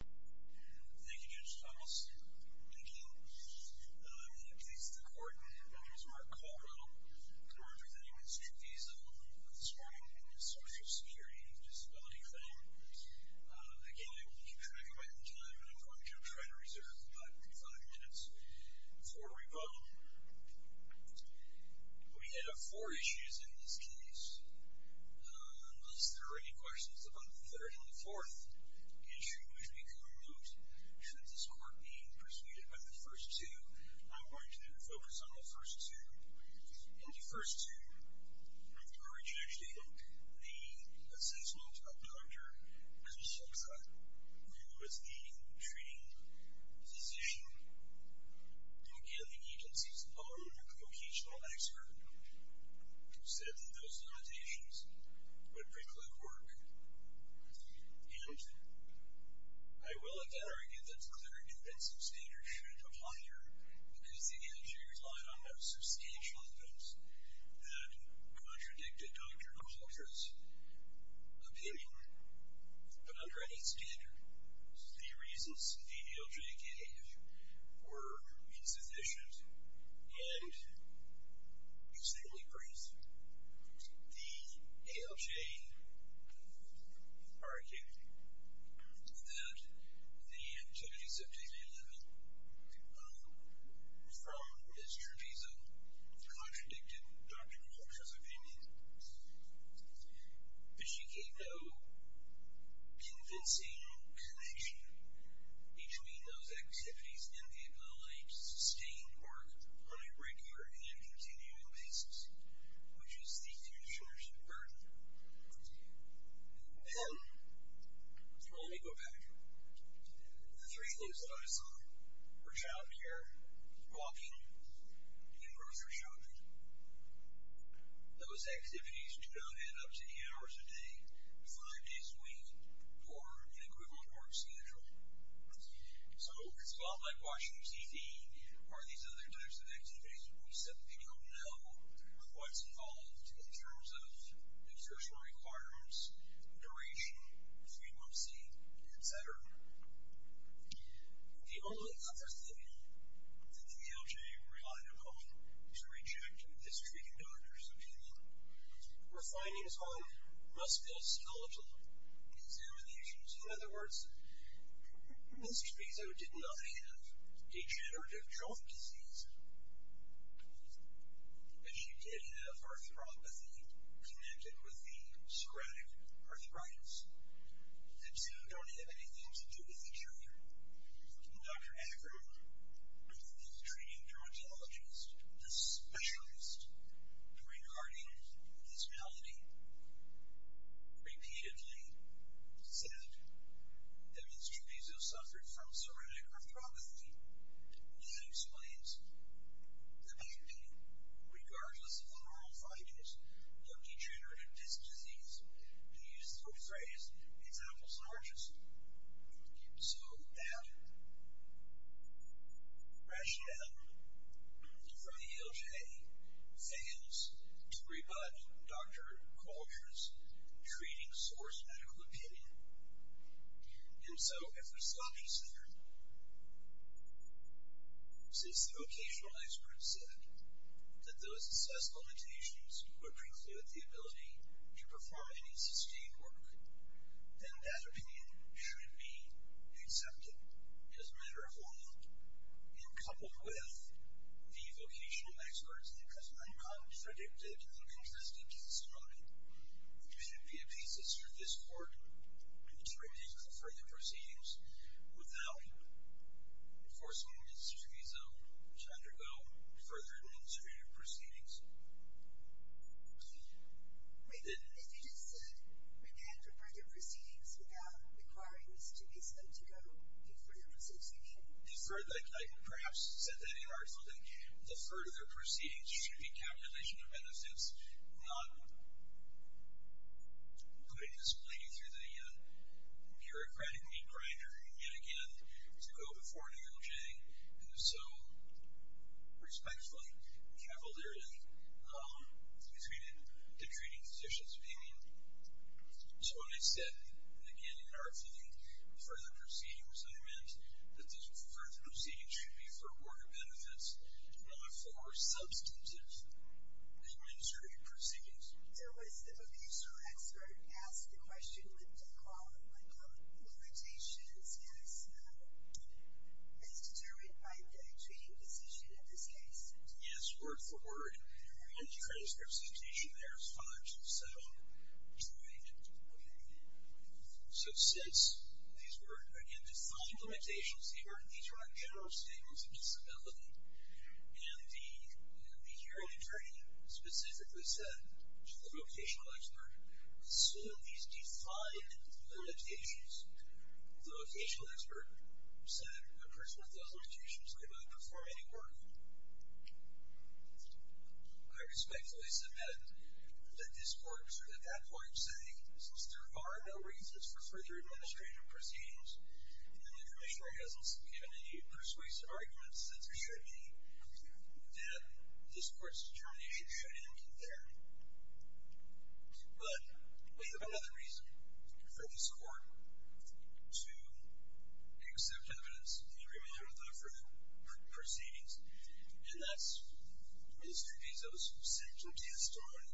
Thank you, Judge Thomas. Thank you. I'm going to please the court. My name is Mark Caldwell. I'm representing Mr. Trevizo on this morning's Social Security Disability claim. Again, I will keep track of it in time, but I'm going to try to reserve about five minutes before we vote. We had four issues in this case. Unless there are any questions about the third and the fourth issues, we can move. Should this court be persuaded by the first two, I'm going to focus on the first two. In the first two, I would urge you to actually look at the sentence notes of the doctor, as we spoke about, who is the treating physician and the agency's own vocational expert. Who said that those notations would preclude work. And I will again argue that the clarity of that substandard should apply here, because the agency relied on substantial evidence that contradicted Dr. Calder's opinion. But under any standard, the reasons the ALJ gave were insufficient. And, secondly, Chris, the ALJ argued that the activities of Jamie Lemon, from Mr. Trevizo, contradicted Dr. Calder's opinion. But she gave no convincing connection between those activities and the ability to sustain work on a regular and continuing basis, which is the insurance burden. Then, let me go back. The three things that I saw, her childcare, walking, and birth of her children, those activities do not add up to eight hours a day, five days a week, or an equivalent work schedule. So, it's a lot like watching TV or these other types of activities. We simply don't know what's involved in terms of exertion requirements, duration, frequency, etc. The only other thing that the ALJ relied upon to reject Ms. Trevizo's opinion were findings on musculoskeletal examinations. In other words, Ms. Trevizo did not have degenerative joint disease, but she did have arthropathy connected with the sclerotic arthritis. The two don't have anything to do with each other. Dr. Agro, the treating dermatologist, the specialist regarding this malady, repeatedly said that Ms. Trevizo suffered from sclerotic arthropathy. That explains the need, regardless of the moral findings, of degenerative disc disease. To use the phrase, it's apples and oranges. So, that rationale from the ALJ fails to rebut Dr. Coulter's treating source medical opinion. And so, if there's a lot to say here, since the vocational experts said that those assessed limitations would preclude the ability to perform any sustained work, then that opinion should be accepted. As a matter of law, coupled with the vocational experts that have not predicted or contested testimony, there should be a piece of service court to remake the further proceedings without forcing Ms. Trevizo to undergo further administrative proceedings. Wait, if you just said, we can't do further proceedings without requiring Ms. Trevizo to go through further association? I perhaps said that in arthropathy. The further proceedings should be calculation of benefits, not putting this blade through the bureaucratic meat grinder, yet again, to go before an ALJ, and so respectfully, cavalierly, to treating physicians' opinion. So, when I said, again, in arthropathy, further proceedings, I meant that those further proceedings should be for worker benefits, not for substantive administrative proceedings. There was a vocational expert who asked the question, would they call limitations as determined by the treating physician in this case? Yes, word for word. In the transcripts of the treaty, there's five to seven. So, since these were, again, defined limitations, these are not general statements of disability, and the hearing attorney specifically said to the vocational expert, assume these defined limitations. The vocational expert said, a person with those limitations may not perform any work. I respectfully submit that this court should at that point say, since there are no reasons for further administrative proceedings, and the informationary hasn't given any persuasive arguments that there should be, that this court's determination should end there. But, we have another reason for this court to accept evidence and remain arthropathic proceedings, and that's Mr. Dezo's sentient testimony,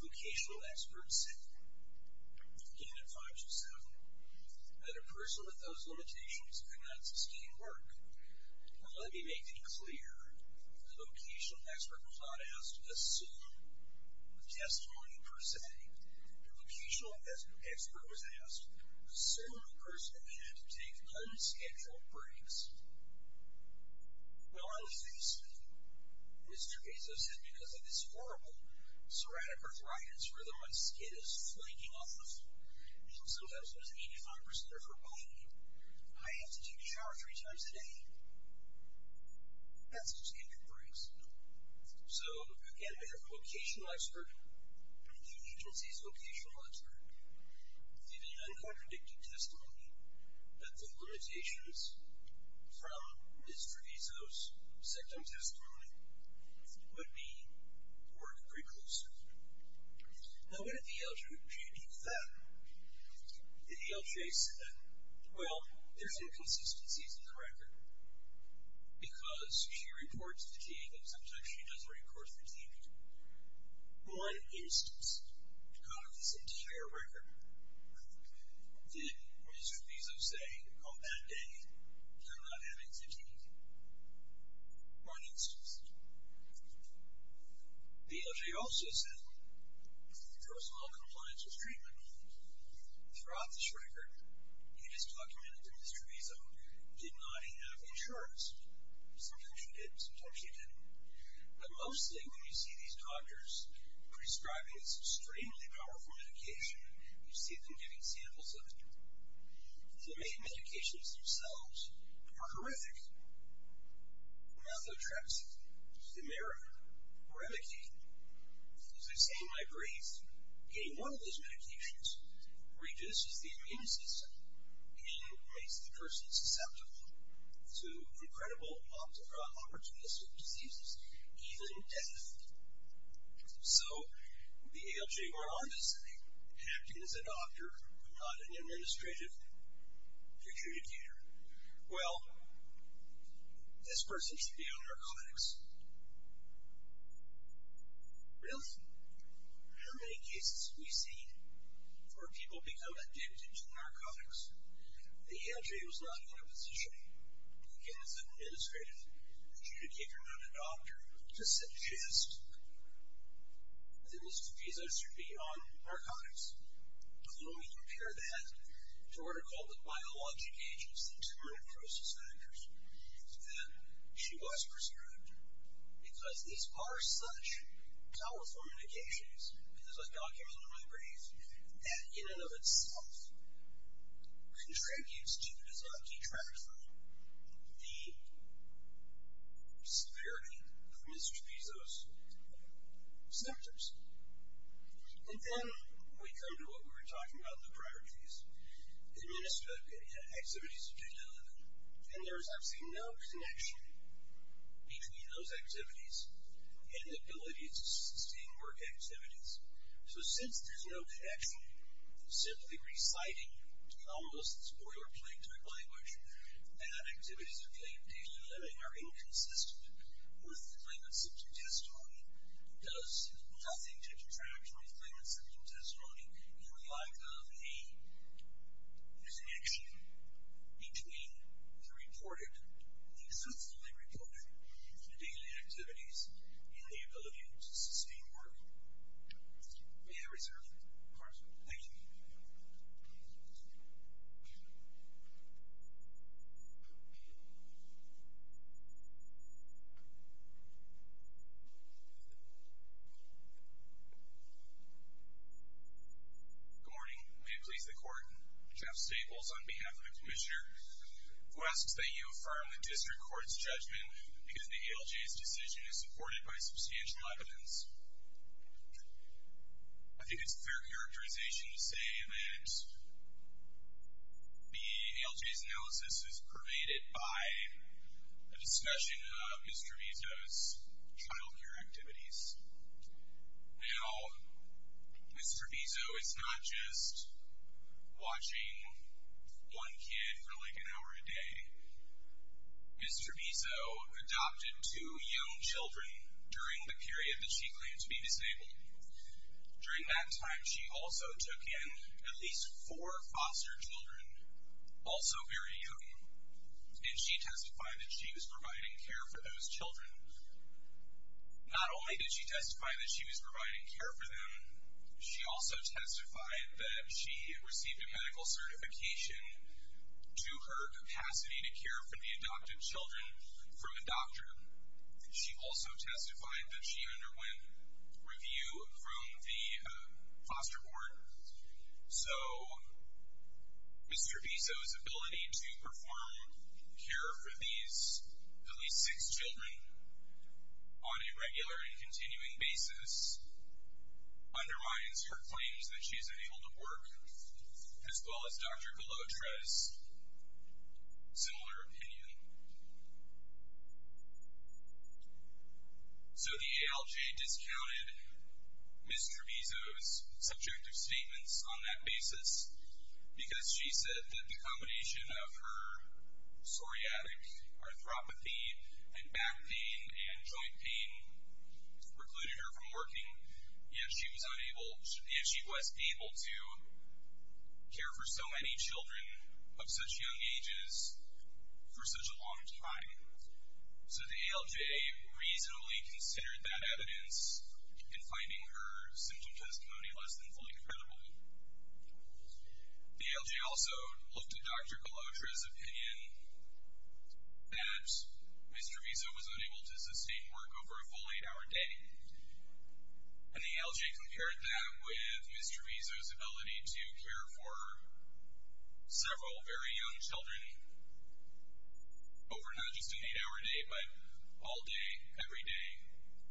vocational expert said, again, in five to seven, that a person with those limitations could not sustain work. Now, let me make it clear, the vocational expert was not asked to assume a testimony, per se. The vocational expert was asked, assume a person had to take unscheduled breaks. Well, on the face of it, Mr. Dezo said, because of this horrible, seratic arthritis where the skin is flaking off the floor, and sometimes there's 85% of her body, I have to take a shower three times a day. That's what skin can bring. So, again, we have a vocational expert, the agency's vocational expert, giving an uncontradicted testimony that the limitations from Mr. Dezo's second testimony, would be work preclusors. Now, what did the LGA mean with that? The LGA said that, well, there's inconsistencies in the record, because she reports fatigue, and sometimes she doesn't report fatigue. One instance, out of this entire record, did Mr. Dezo say, on that day, you're not having fatigue? One instance. The LGA also said, for personal compliance with treatment, throughout this record, you just documented that Mr. Dezo did not have insurance. Sometimes she did, sometimes she didn't. But mostly, when you see these doctors prescribing this extremely powerful medication, you see them giving samples of it. The medications themselves are horrific. Methotrexate, Cimeric, Remicade. As I say in my brief, getting one of those medications reduces the immune system, and makes the person susceptible to incredible opportunistic diseases, even death. So, the LGA went on to say, acting as a doctor, not an administrative adjudicator. Well, this person should be on narcotics. Really? How many cases have we seen where people become addicted to narcotics? The LGA was not in a position, acting as an administrative adjudicator, not a doctor, to suggest that Mr. Dezo should be on narcotics. But when we compare that to what are called the biologic agents, the intermittent process factors, then she was prescribed. Because these are such powerful medications, as I documented in my brief, that in and of itself contributes to, as a detractor, the severity of Mr. Dezo's symptoms. And then we come to what we were talking about, the priorities. Administrative activities to be delivered. And there's actually no connection between those activities and the ability to sustain work activities. So since there's no connection, simply reciting, almost spoiler plate type language, that activities that claim daily living are inconsistent with the claimant's symptom testimony does nothing to detract from the claimant's symptom testimony in the lack of a connection between the reported, the extensively reported daily activities and the ability to sustain work. May I reserve the floor? Thank you. Jeff Staples Good morning. May it please the Court, Jeff Staples on behalf of the Commissioner, who asks that you affirm the District Court's judgment because the ALJ's decision is supported by substantial evidence. I think it's fair characterization to say that the ALJ's analysis is pervaded by a discussion of Mr. Dezo's child care activities. Now, Mr. Dezo is not just watching one kid for like an hour a day. Mr. Dezo adopted two young children during the period that she claimed to be disabled. During that time, she also took in at least four foster children, also very young, and she testified that she was providing care for those children. Not only did she testify that she was providing care for them, she also testified that she received a medical certification to her capacity to care for the adopted children from a doctor. She also testified that she underwent review from the foster board. So Mr. Dezo's ability to perform care for these at least six children on a regular and continuing basis undermines her claims that she's unable to work, as well as Dr. Galotra's similar opinion. So the ALJ discounted Ms. Trevizo's subjective statements on that basis, because she said that the combination of her psoriatic arthropathy and back pain and joint pain precluded her from working, yet she was able to care for so many children of such young ages for such a long time. So the ALJ reasonably considered that evidence in finding her symptom testimony less than fully credible. The ALJ also looked at Dr. Galotra's opinion that Ms. Trevizo was unable to sustain work over a full eight-hour day, and the ALJ compared that with Ms. Trevizo's ability to care for several very young children over not just an eight-hour day, but all day, every day,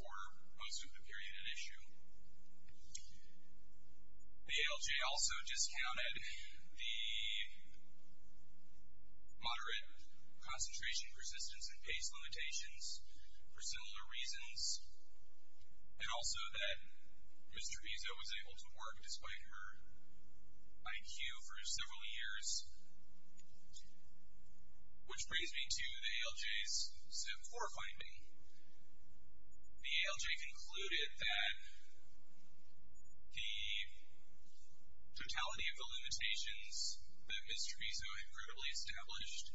for most of the period at issue. The ALJ also discounted the moderate concentration, persistence, and pace limitations for similar reasons, and also that Ms. Trevizo was able to work despite her IQ for several years. Which brings me to the ALJ's zip core finding. The ALJ concluded that the totality of the limitations that Ms. Trevizo had credibly established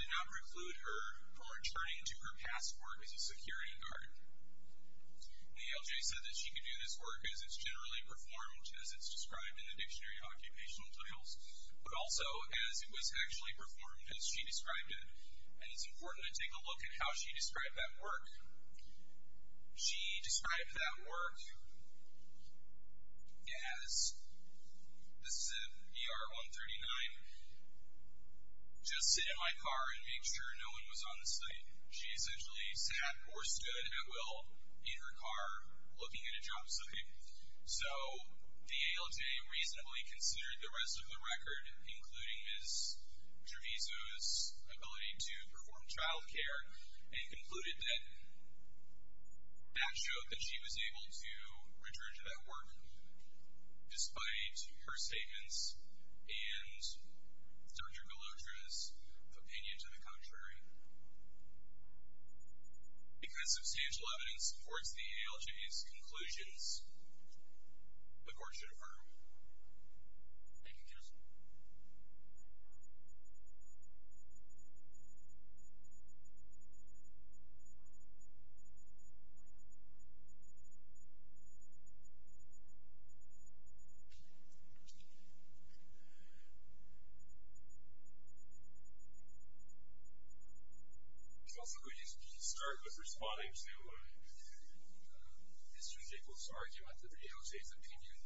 did not preclude her from returning to her past work as a security guard. The ALJ said that she could do this work as it's generally performed, as it's described in the dictionary of occupational trials, but also as it was actually performed as she described it. And it's important to take a look at how she described that work. She described that work as, this is at ER 139, just sit in my car and make sure no one was on the site. She essentially sat or stood at will in her car looking at a job site. So the ALJ reasonably considered the rest of the record, including Ms. Trevizo's ability to perform childcare, and concluded that that showed that she was able to return to that work despite her statements and Dr. Galotra's opinion to the contrary. Because substantial evidence supports the ALJ's conclusions, the court should affirm. Thank you, counsel. Counsel, could you start with responding to Mr. Gable's argument that the ALJ's opinion,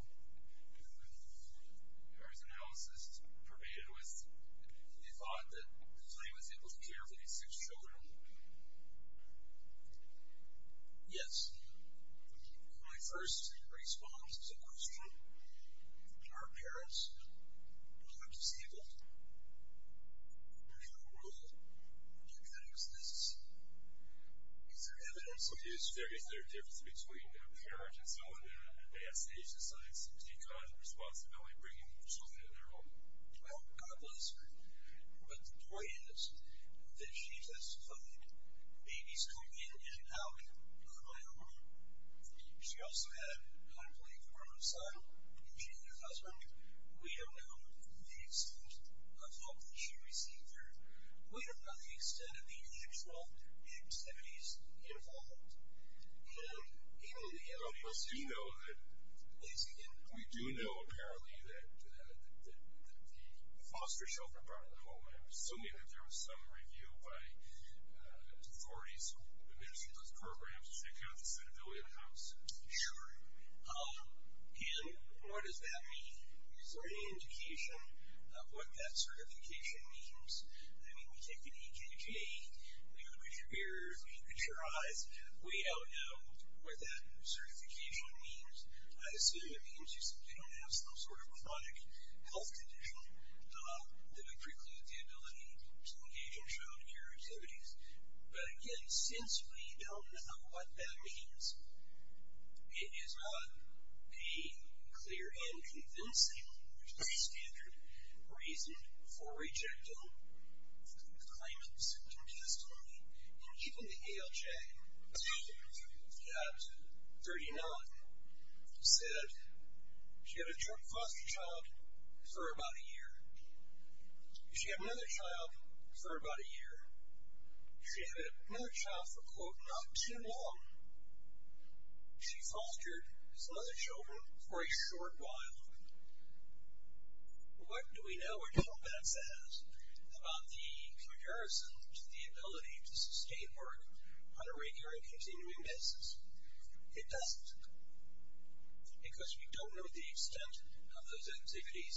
or his analysis, pervaded with the thought that Clay was able to care for his six children? Yes. My first response is a question. Our parents were disabled. Do you rule that that exists? Is there evidence of that? Is there a difference between a parent and someone that they have staged a suicide, seems to take on the responsibility of bringing something into their home? Well, God bless her, but the point is that she testified babies come in and out of my home. She also had, I believe, a homicide. She and her husband, we don't know the extent of hope that she received her. We don't know the extent of the intentional activities involved. But we do know, apparently, that the foster children brought her to the home. I'm assuming that there was some review by authorities who administered those programs to check out the suitability of the house. Sure. And what does that mean? Is there any indication of what that certification means? I mean, we take an EKG, we look at your ears, we look at your eyes, we don't know what that certification means. I assume it means you don't have some sort of chronic health condition that would preclude the ability to engage in child care activities. But again, since we don't know what that means, it is not a clear and convincing standard reason for rejecting the claimants' testimony. And even the ALJ at 39 said she had a foster child for about a year. She had another child for about a year. She had another child for, quote, not too long. She fostered his other children for a short while. What do we know at home that says about the comparison to the ability to sustain work on a regular and continuing basis? It doesn't. Because we don't know the extent of those activities,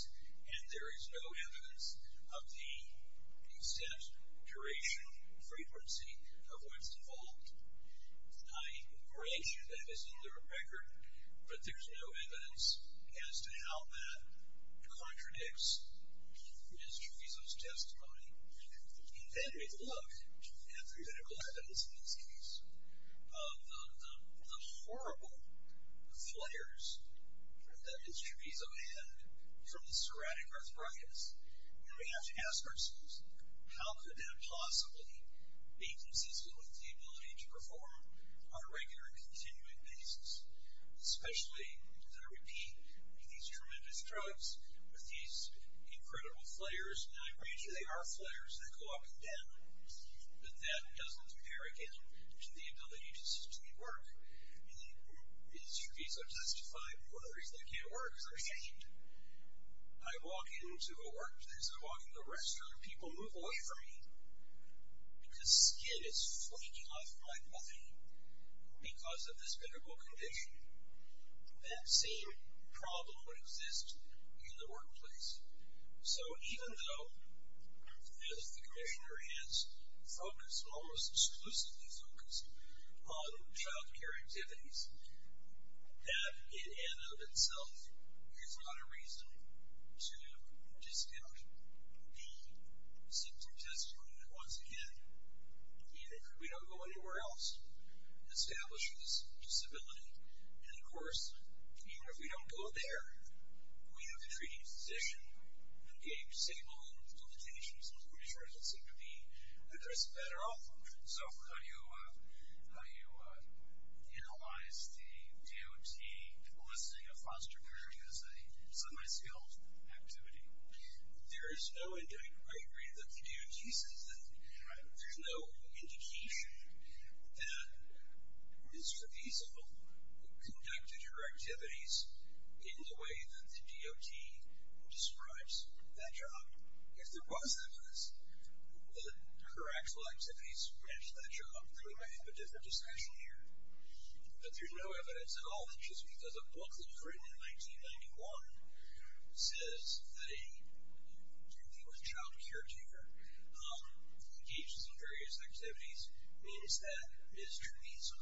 and there is no evidence of the extent, duration, frequency of what's involved. I grant you that is in the record, but there's no evidence as to how that contradicts Ms. Treviso's testimony. And then we look at the clinical evidence in this case of the horrible flares that Ms. Treviso had from the cirrhotic arthritis, and we have to ask ourselves, how could that possibly be consistent with the ability to perform on a regular and continuing basis? Especially, as I repeat, with these tremendous drugs, with these incredible flares. And I grant you they are flares that go up and down, but that doesn't compare again to the ability to sustain work. And Ms. Treviso testified, and one of the reasons I can't work is I'm shamed. I walk into a workplace, I walk into a restaurant, and people move away from me because skin is flaking off my body because of this miserable condition. That same problem would exist in the workplace. So even though, as the commissioner has focused, almost exclusively focused, on child care activities, that in and of itself is not a reason to discount the symptom testimony that once again, even if we don't go anywhere else, establishes disability. And of course, even if we don't go there, we have a treating physician who gave stable limitations on what his results seem to be, and there's a better outcome. So how do you analyze the DOT listing of foster care as a semi-skilled activity? There is no indication. I agree that the DOT says that there's no indication that Ms. Treviso conducted her activities in the way that the DOT describes that job. If there was evidence that her actual activities matched that job, then we might have a different discussion here. But there's no evidence at all that just because a book that was written in 1991 says that a human child caretaker engages in various activities means that Ms. Treviso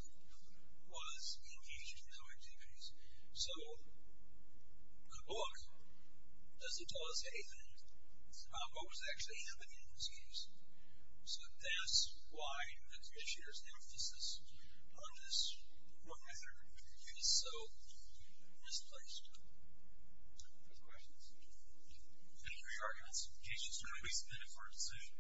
was engaged in those activities. So a book doesn't tell us anything about what was actually happening in Ms. Treviso. So that's why the commissioner's emphasis on this method is so misplaced. Any other questions? Any re-arguments? Can you just let me spend it for a decision?